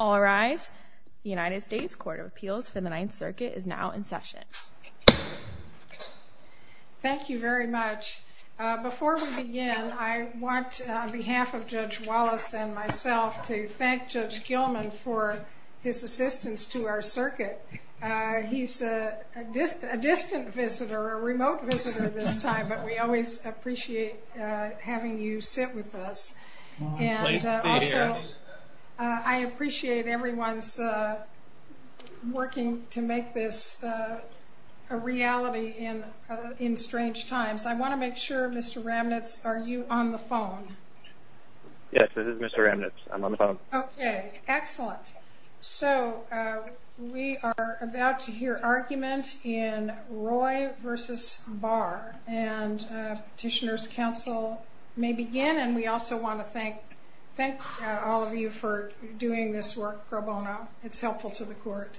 All rise. The United States Court of Appeals for the Ninth Circuit is now in session. Thank you very much. Before we begin, I want on behalf of Judge Wallace and myself to thank Judge Gilman for his assistance to our circuit. He's a distant visitor, a remote visitor this time, but we always appreciate having you sit with us. I appreciate everyone's working to make this a reality in strange times. I want to make sure, Mr. Ramnitz, are you on the phone? Yes, this is Mr. Ramnitz. I'm on the phone. Okay, excellent. So we are about to hear argument in Roy v. Barr and Petitioner's Counsel may begin and we also want to thank all of you for doing this work pro bono. It's helpful to the court.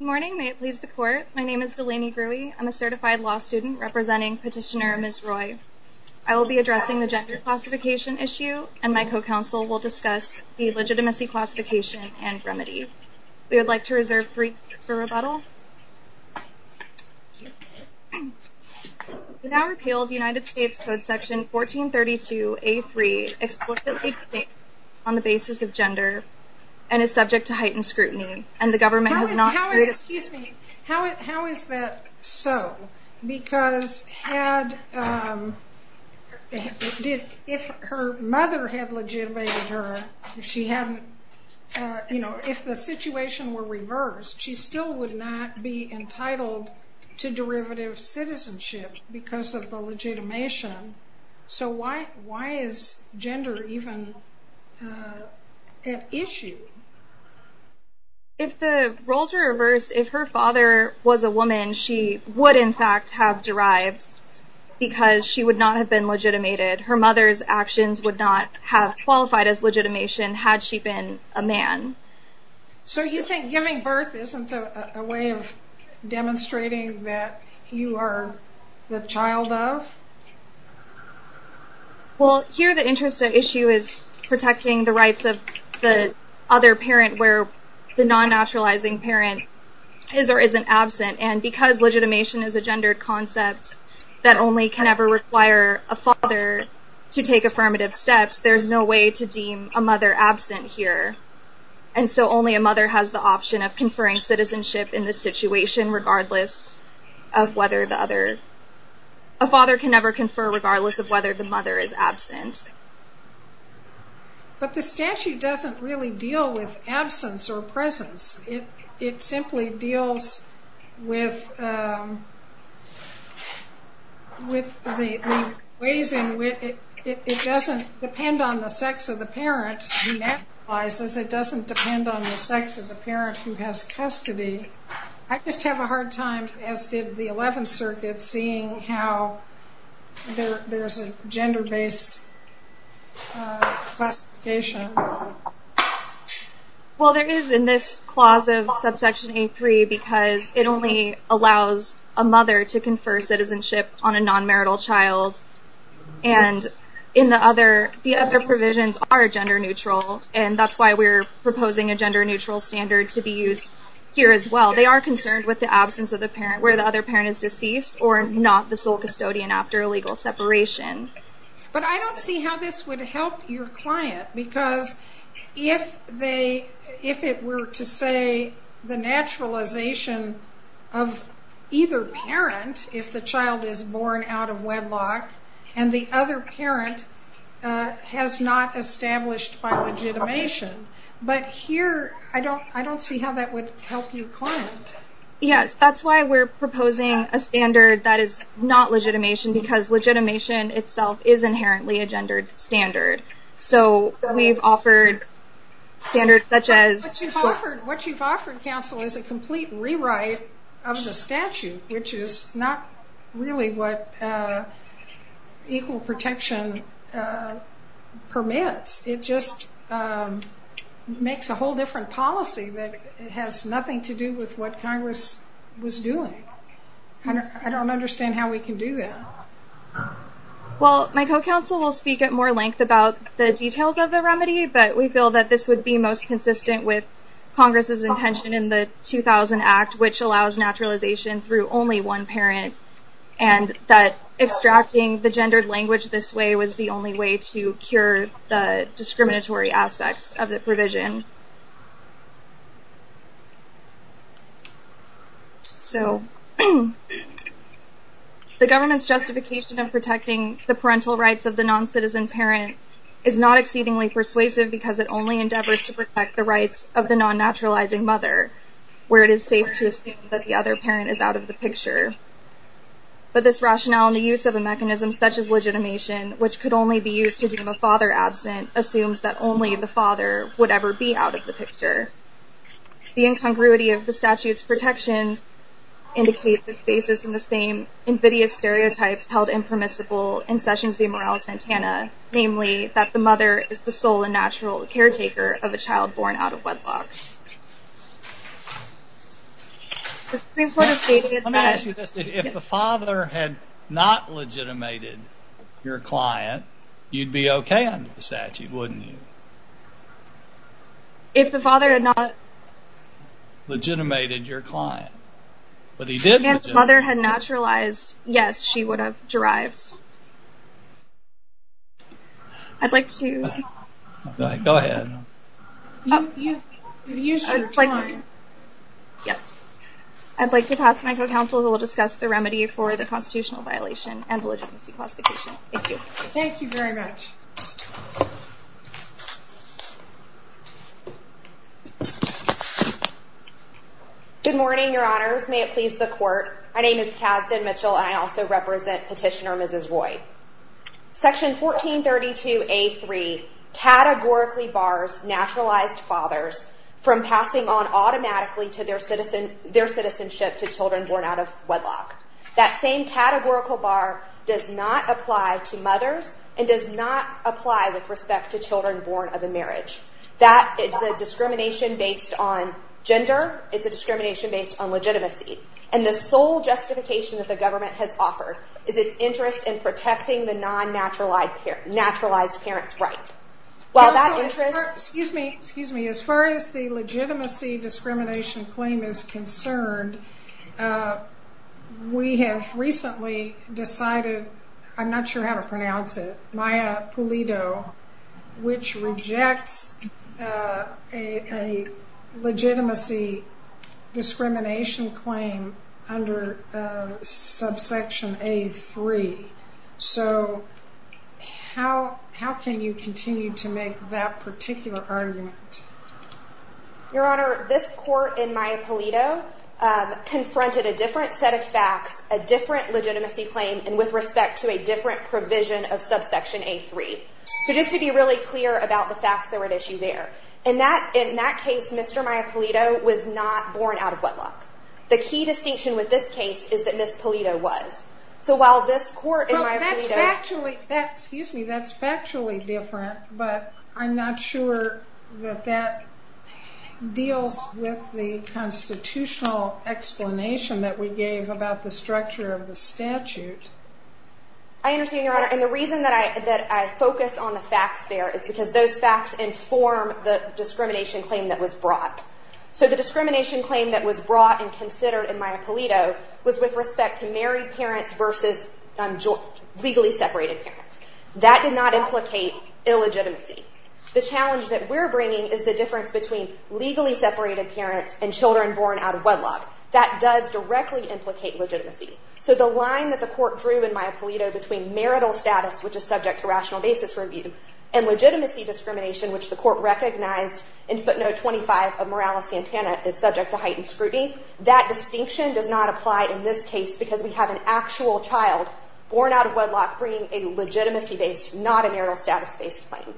Good morning, may it please the court. My name is Delaney Grewey. I'm a certified law student representing Petitioner Ms. Roy. I will be addressing the gender classification issue and my co-counsel will discuss the legitimacy classification and remedy. We would like to The now repealed United States Code section 1432A3 explicitly states on the basis of gender and is subject to heightened scrutiny. How is that so? Because if her mother had legitimated her, if the situation were reversed, she still would not be entitled to non-derivative citizenship because of the legitimation. So why is gender even an issue? If the roles were reversed, if her father was a woman, she would in fact have derived because she would not have been legitimated. Her mother's actions would not have qualified as legitimation had she been a man. So you think giving birth isn't a way of you are the child of? Well, here the interest at issue is protecting the rights of the other parent where the non-naturalizing parent is or isn't absent. And because legitimation is a gendered concept that only can ever require a father to take affirmative steps, there's no way to deem a mother absent here. And so only a mother has the option of conferring citizenship in this situation regardless of whether the other, a father can never confer regardless of whether the mother is absent. But the statute doesn't really deal with absence or presence. It simply deals with the ways in which, it doesn't depend on the sex of the parent who naturalizes. It doesn't depend on the sex of the parent who has custody. I just have a hard time, as did the 11th Circuit, seeing how there's a gender-based classification. Well there is in this clause of subsection 8.3 because it only allows a mother to confer gender-neutral and that's why we're proposing a gender-neutral standard to be used here as well. They are concerned with the absence of the parent where the other parent is deceased or not the sole custodian after a legal separation. But I don't see how this would help your client because if it were to say the naturalization of either parent, if the child is born out of wedlock and the other parent has not established by legitimation, but here I don't see how that would help your client. Yes, that's why we're proposing a standard that is not legitimation because legitimation itself is inherently a gendered standard. So we've offered standards such as... What you've offered counsel is a complete rewrite of the statute which is not really what equal protection permits. It just makes a whole different policy that has nothing to do with what Congress was doing. I don't understand how we can do that. Well my co-counsel will speak at more length about the details of the remedy but we feel that this would be most consistent with Congress's intention in the 2000 Act which allows naturalization through only one parent and that extracting the gendered language this way was the only way to cure the discriminatory aspects of the provision. So the government's justification of protecting the parental rights of the non-citizen parent is not exceedingly persuasive because it only endeavors to protect the rights of the non-naturalizing mother where it is safe to assume that the other parent is out of the picture. But this rationale in the use of a mechanism such as legitimation which could only be used to deem a father absent assumes that only the father would ever be out of the picture. The incongruity of the statute's protections indicate the basis in the same invidious stereotypes held impermissible in Sessions v. Morales-Santana, namely that the mother is the sole and natural caretaker of a child born out of wedlock. Let me ask you this, if the father had not legitimated your client, you'd be okay under the statute, wouldn't you? If the father had not legitimated your client, but he did legitimate your client. If the father had naturalized, yes, she would have derived. I'd like to pass to my co-counsel who will discuss the remedy for the constitutional violation and the legitimacy classification. Thank you. Thank you very much. Good morning, your honors. May it please the court. My name is Kasdan Mitchell and I also represent Petitioner Mrs. Roy. Section 1432A.3 categorically bars naturalized fathers from passing on automatically to their citizenship to children born out of wedlock. That same categorical bar does not apply to mothers and does not apply with respect to children born of a marriage. That is a discrimination based on gender. It's a discrimination based on legitimacy. And the sole justification that the government has offered is its interest in protecting the non-naturalized parent's right. Excuse me, as far as the legitimacy discrimination claim is concerned, we have recently decided, I'm not sure how to pronounce it, which rejects a legitimacy discrimination claim under subsection A.3. So how can you continue to make that particular argument? Your honor, this court in Maya Pulido confronted a different set of facts, a different legitimacy claim, and with respect to a different provision of subsection A.3. So just to be really clear about the facts that were at issue there. In that case, Mr. Maya Pulido was not born out of wedlock. The key distinction with this case is that Ms. Pulido was. Excuse me, that's factually different, but I'm not sure that that deals with the constitutional explanation that we gave about the structure of the statute. I understand your honor, and the reason that I focus on the facts there is because those facts inform the discrimination claim that was brought. So the discrimination claim that was brought and considered in Maya Pulido was with respect to married parents versus legally separated parents. That did not implicate illegitimacy. The challenge that we're bringing is the difference between legally separated parents and children born out of wedlock. That does directly implicate legitimacy. So the line that the court drew in Maya Pulido between marital status, which is subject to rational basis review, and legitimacy discrimination, which the court recognized in footnote 25 of Morales-Santana is subject to heightened scrutiny, that distinction does not apply in this case because we have an actual child born out of wedlock bringing a legitimacy-based, not a marital status-based claim.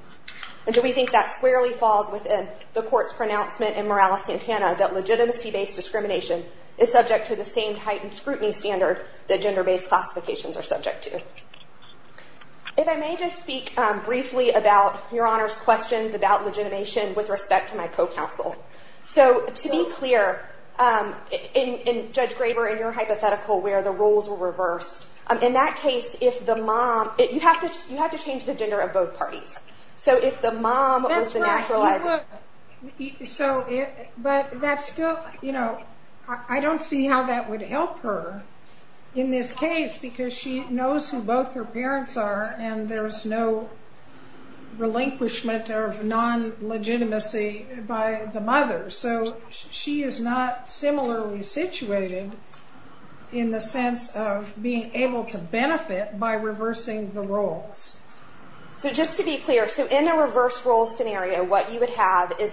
And so we think that squarely falls within the court's pronouncement in Morales-Santana that legitimacy-based discrimination is subject to the same heightened scrutiny standard that gender-based classifications are subject to. If I may just speak briefly about Your Honor's questions about legitimation with respect to my co-counsel. So to be clear, in Judge Graber, in your hypothetical where the roles were reversed, in that case, if the mom, you have to change the gender of both parties. So if the mom was the naturalized... But that's still, you know, I don't see how that would help her in this case because she knows who both her parents are and there's no relinquishment of non-legitimacy by the mother. So she is not similarly situated in the sense of being able to benefit by reversing the roles. So just to be clear, so in a reverse role scenario, what you would have is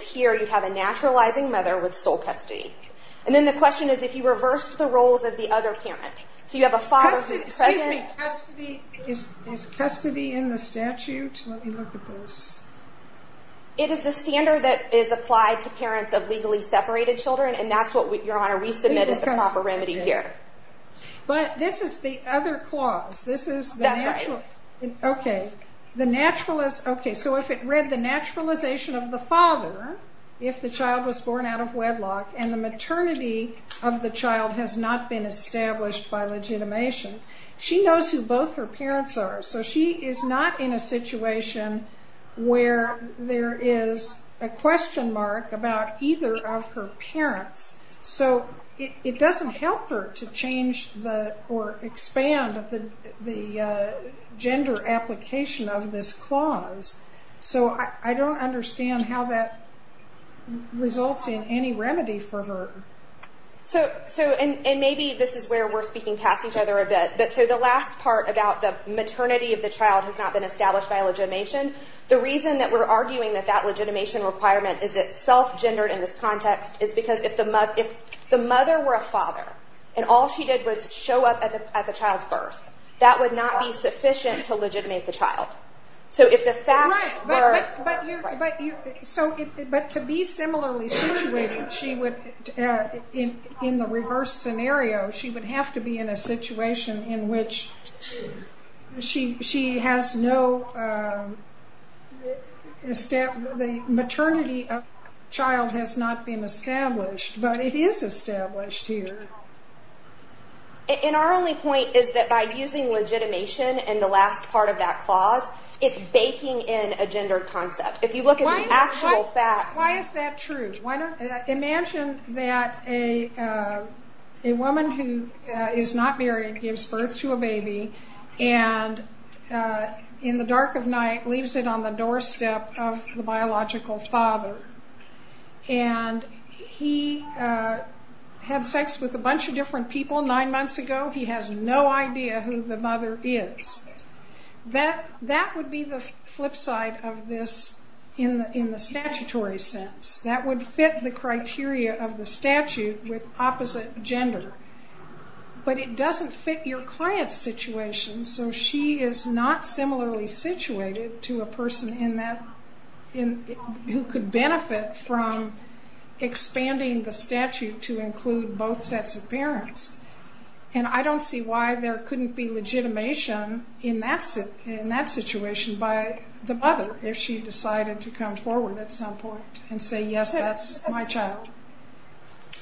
here you have a naturalizing mother with sole custody. And then the question is if you reversed the roles of the other parent. So you have a father who is present... Is custody in the statute? Let me look at this. It is the standard that is applied to parents of legally separated children and that's what, Your Honor, we submit as the proper remedy here. But this is the other clause. That's right. Okay. So if it read the naturalization of the father, if the child was born out of wedlock and the maternity of the child has not been established by legitimation, she knows who both her parents are. So she is not in a situation where there is a question mark about either of her parents. So it doesn't help her to change or expand the gender application of this clause. So I don't understand how that results in any remedy for her. And maybe this is where we are speaking past each other a bit. So the last part about the maternity of the child has not been established by legitimation, the reason that we're arguing that that legitimation requirement is itself gendered in this context is because if the mother were a father and all she did was show up at the child's birth, that would not be sufficient to legitimate the child. Right. But to be similarly situated in the reverse scenario, she would have to be in a situation in which the maternity of the child has not been established, but it is established here. And our only point is that by using legitimation in the last part of that clause, it's baking in a gender concept. If you look at the actual facts. Why is that true? Imagine that a woman who is not married gives birth to a baby and in the dark of night leaves it on the doorstep of the biological father. And he had sex with a bunch of different people nine months ago. He has no idea who the mother is. That would be the flip side of this in the statutory sense. That would fit the criteria of the statute with opposite gender, but it doesn't fit your client's situation. So she is not similarly situated to a person who could benefit from expanding the statute to include both sets of parents. And I don't see why there couldn't be legitimation in that situation by the mother if she decided to come forward at some point and say, yes, that's my child.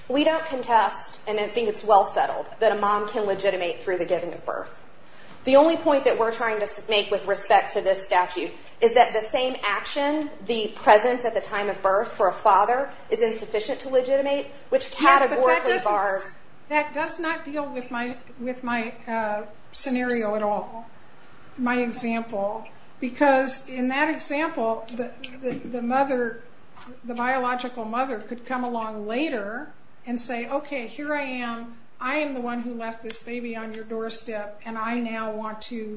We don't contest, and I think it's well settled, that a mom can legitimate through the giving of birth. The only point that we're trying to make with respect to this statute is that the same action, the presence at the time of birth for a father is insufficient to legitimate, which categorically bars. Yes, but that does not deal with my scenario at all, my example. Because in that example, the biological mother could come along later and say, okay, here I am. I am the one who left this baby on your doorstep, and I now want to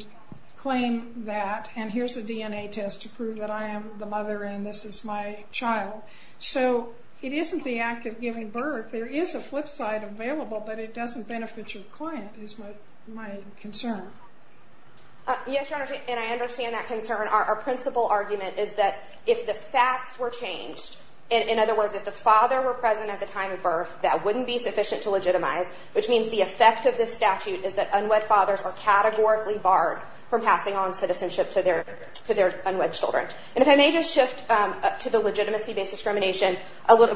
claim that, and here's a DNA test to prove that I am the mother and this is my child. So it isn't the act of giving birth. There is a flip side available, but it doesn't benefit your client is my concern. Yes, Your Honor, and I understand that concern. Our principal argument is that if the facts were changed, in other words, if the father were present at the time of birth, that wouldn't be sufficient to legitimize, which means the effect of this statute is that unwed fathers are categorically barred from passing on citizenship to their unwed children. And if I may just shift to the legitimacy-based discrimination,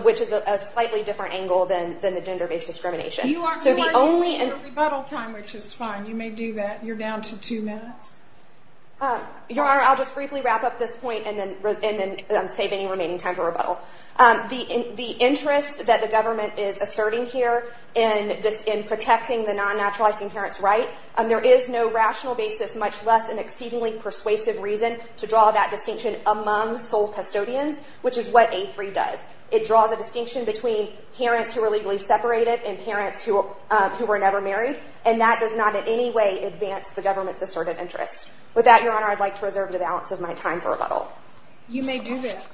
which is a slightly different angle than the gender-based discrimination. You are using the rebuttal time, which is fine. You may do that. You're down to two minutes. Your Honor, I'll just briefly wrap up this point and then save any remaining time for rebuttal. The interest that the government is asserting here in protecting the non-naturalizing parents' right, there is no rational basis, much less an exceedingly persuasive reason, to draw that distinction among sole custodians, which is what A3 does. It draws a distinction between parents who are legally separated and parents who are never married, and that does not in any way advance the government's asserted interests. With that, Your Honor, I'd like to reserve the balance of my time for rebuttal. You may do that.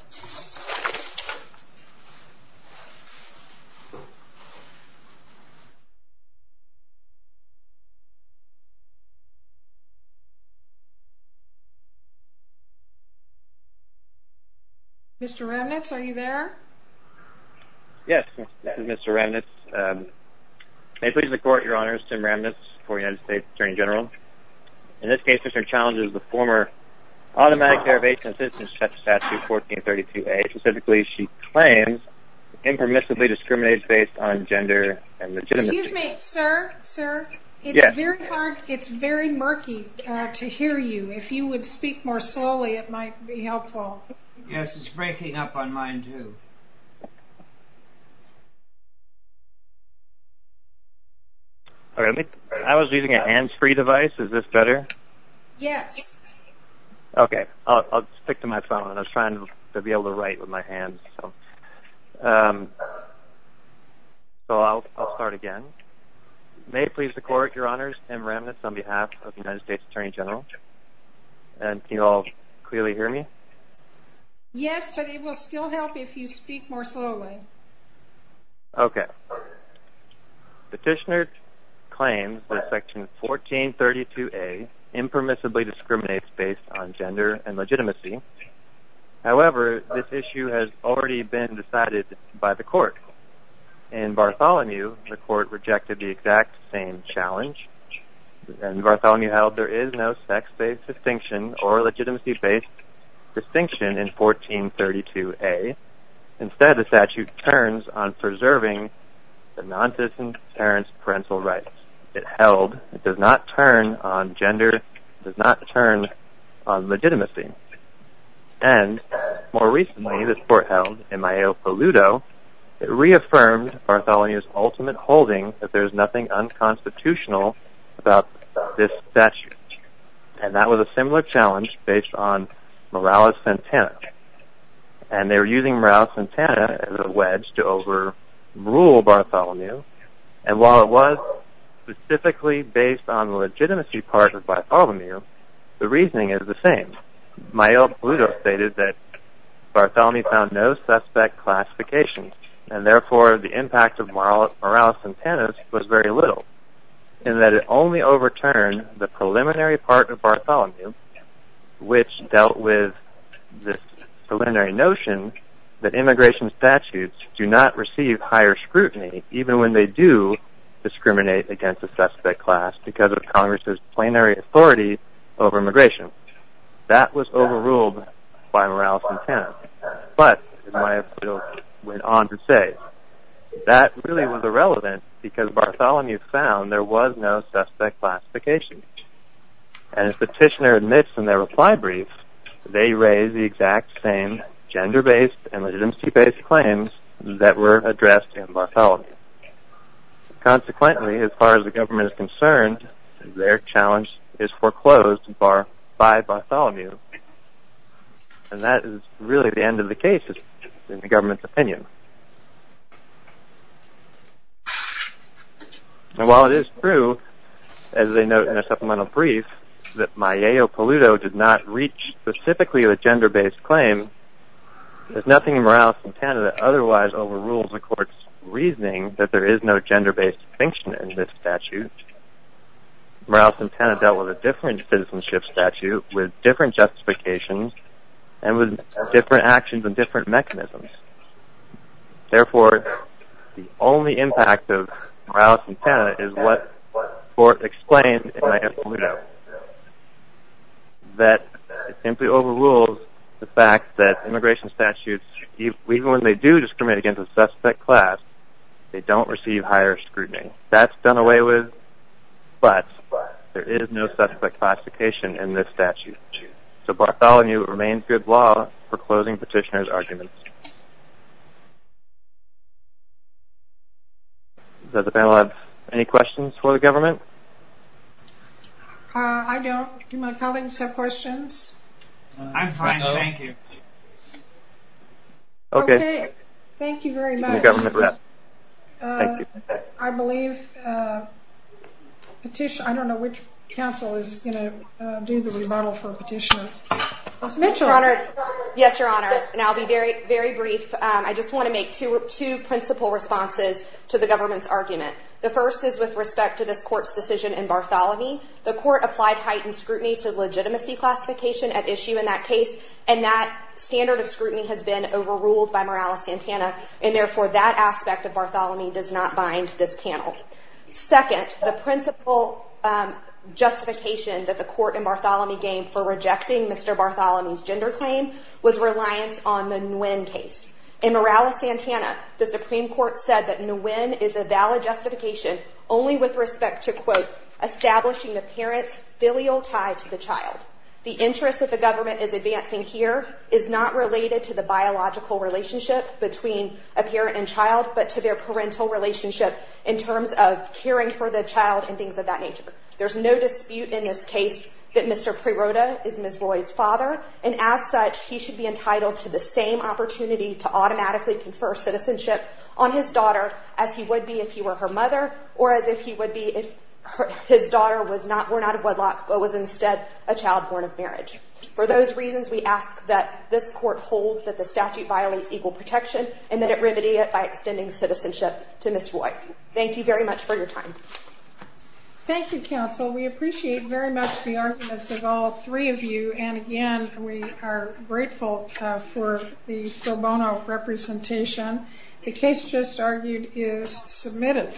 Mr. Remnitz, are you there? Yes, Mr. Remnitz. May it please the Court, Your Honor, this is Tim Remnitz, former United States Attorney General. In this case, Mr. Challenge is the former Automatic Care of Asian Citizens statute, 1432A. Specifically, she claims impermissibly discriminates based on gender and legitimacy. Excuse me, sir? Sir? Yes. It's very murky to hear you. If you would speak more slowly, it might be helpful. Yes, it's breaking up on mine, too. I was using a hands-free device. Is this better? Yes. Okay. I'll stick to my phone. I was trying to be able to write with my hands. So I'll start again. May it please the Court, Your Honors, Tim Remnitz on behalf of the United States Attorney General. Can you all clearly hear me? Yes, but it will still help if you speak more slowly. Okay. Petitioner claims that Section 1432A impermissibly discriminates based on gender and legitimacy. However, this issue has already been decided by the Court. In Bartholomew, the Court rejected the exact same challenge. And Bartholomew held there is no sex-based distinction or legitimacy-based distinction in 1432A. Instead, the statute turns on preserving the nondiscriminatory parental rights. It held it does not turn on gender. It does not turn on legitimacy. And more recently, this Court held in Maillot-Polluto, it reaffirmed Bartholomew's ultimate holding that there is nothing unconstitutional about this statute. And that was a similar challenge based on Morales-Santana. And they were using Morales-Santana as a wedge to overrule Bartholomew. And while it was specifically based on the legitimacy part of Bartholomew, the reasoning is the same. Maillot-Polluto stated that Bartholomew found no suspect classifications. And therefore, the impact of Morales-Santana was very little. And that it only overturned the preliminary part of Bartholomew, which dealt with this preliminary notion that immigration statutes do not receive higher scrutiny even when they do discriminate against a suspect class because of Congress's plenary authority over immigration. That was overruled by Morales-Santana. But, Maillot-Polluto went on to say, that really was irrelevant because Bartholomew found there was no suspect classification. And as Petitioner admits in their reply brief, they raised the exact same gender-based and legitimacy-based claims that were addressed in Bartholomew. Consequently, as far as the government is concerned, their challenge is foreclosed by Bartholomew. And that is really the end of the case, in the government's opinion. And while it is true, as they note in a supplemental brief, that Maillot-Polluto did not reach specifically a gender-based claim, there is nothing in Morales-Santana that otherwise overrules the Court's reasoning that there is no gender-based distinction in this statute. Morales-Santana dealt with a different citizenship statute, with different justifications, and with different actions and different mechanisms. Therefore, the only impact of Morales-Santana is what the Court explained in Maillot-Polluto, that it simply overrules the fact that immigration statutes, even when they do discriminate against a suspect class, they don't receive higher scrutiny. That's done away with, but there is no suspect classification in this statute. So Bartholomew remains good law for closing Petitioner's arguments. I don't. Do my colleagues have questions? I'm fine, thank you. Okay, thank you very much. I believe Petitioner, I don't know which counsel is going to do the remodel for Petitioner. Ms. Mitchell. Yes, Your Honor, and I'll be very brief. I just want to make two principal responses to the government's argument. The first is with respect to this Court's decision in Bartholomew. The Court applied heightened scrutiny to legitimacy classification at issue in that case, and that standard of scrutiny has been overruled by Morales-Santana, and therefore that aspect of Bartholomew does not bind this panel. Second, the principal justification that the Court in Bartholomew gave for rejecting Mr. Bartholomew's gender claim was reliance on the Nguyen case. In Morales-Santana, the Supreme Court said that Nguyen is a valid justification only with respect to, quote, establishing the parent's filial tie to the child. The interest that the government is advancing here is not related to the biological relationship between a parent and child, but to their parental relationship in terms of caring for the child and things of that nature. There's no dispute in this case that Mr. Preroda is Ms. Roy's father, and as such, he should be entitled to the same opportunity to automatically confer citizenship on his daughter as he would be if he were her mother, or as if he would be if his daughter were not a wedlock but was instead a child born of marriage. For those reasons, we ask that this Court hold that the statute violates equal protection and that it remedy it by extending citizenship to Ms. Roy. Thank you very much for your time. Thank you, Counsel. We appreciate very much the arguments of all three of you, and again, we are grateful for the pro bono representation. The case just argued is submitted.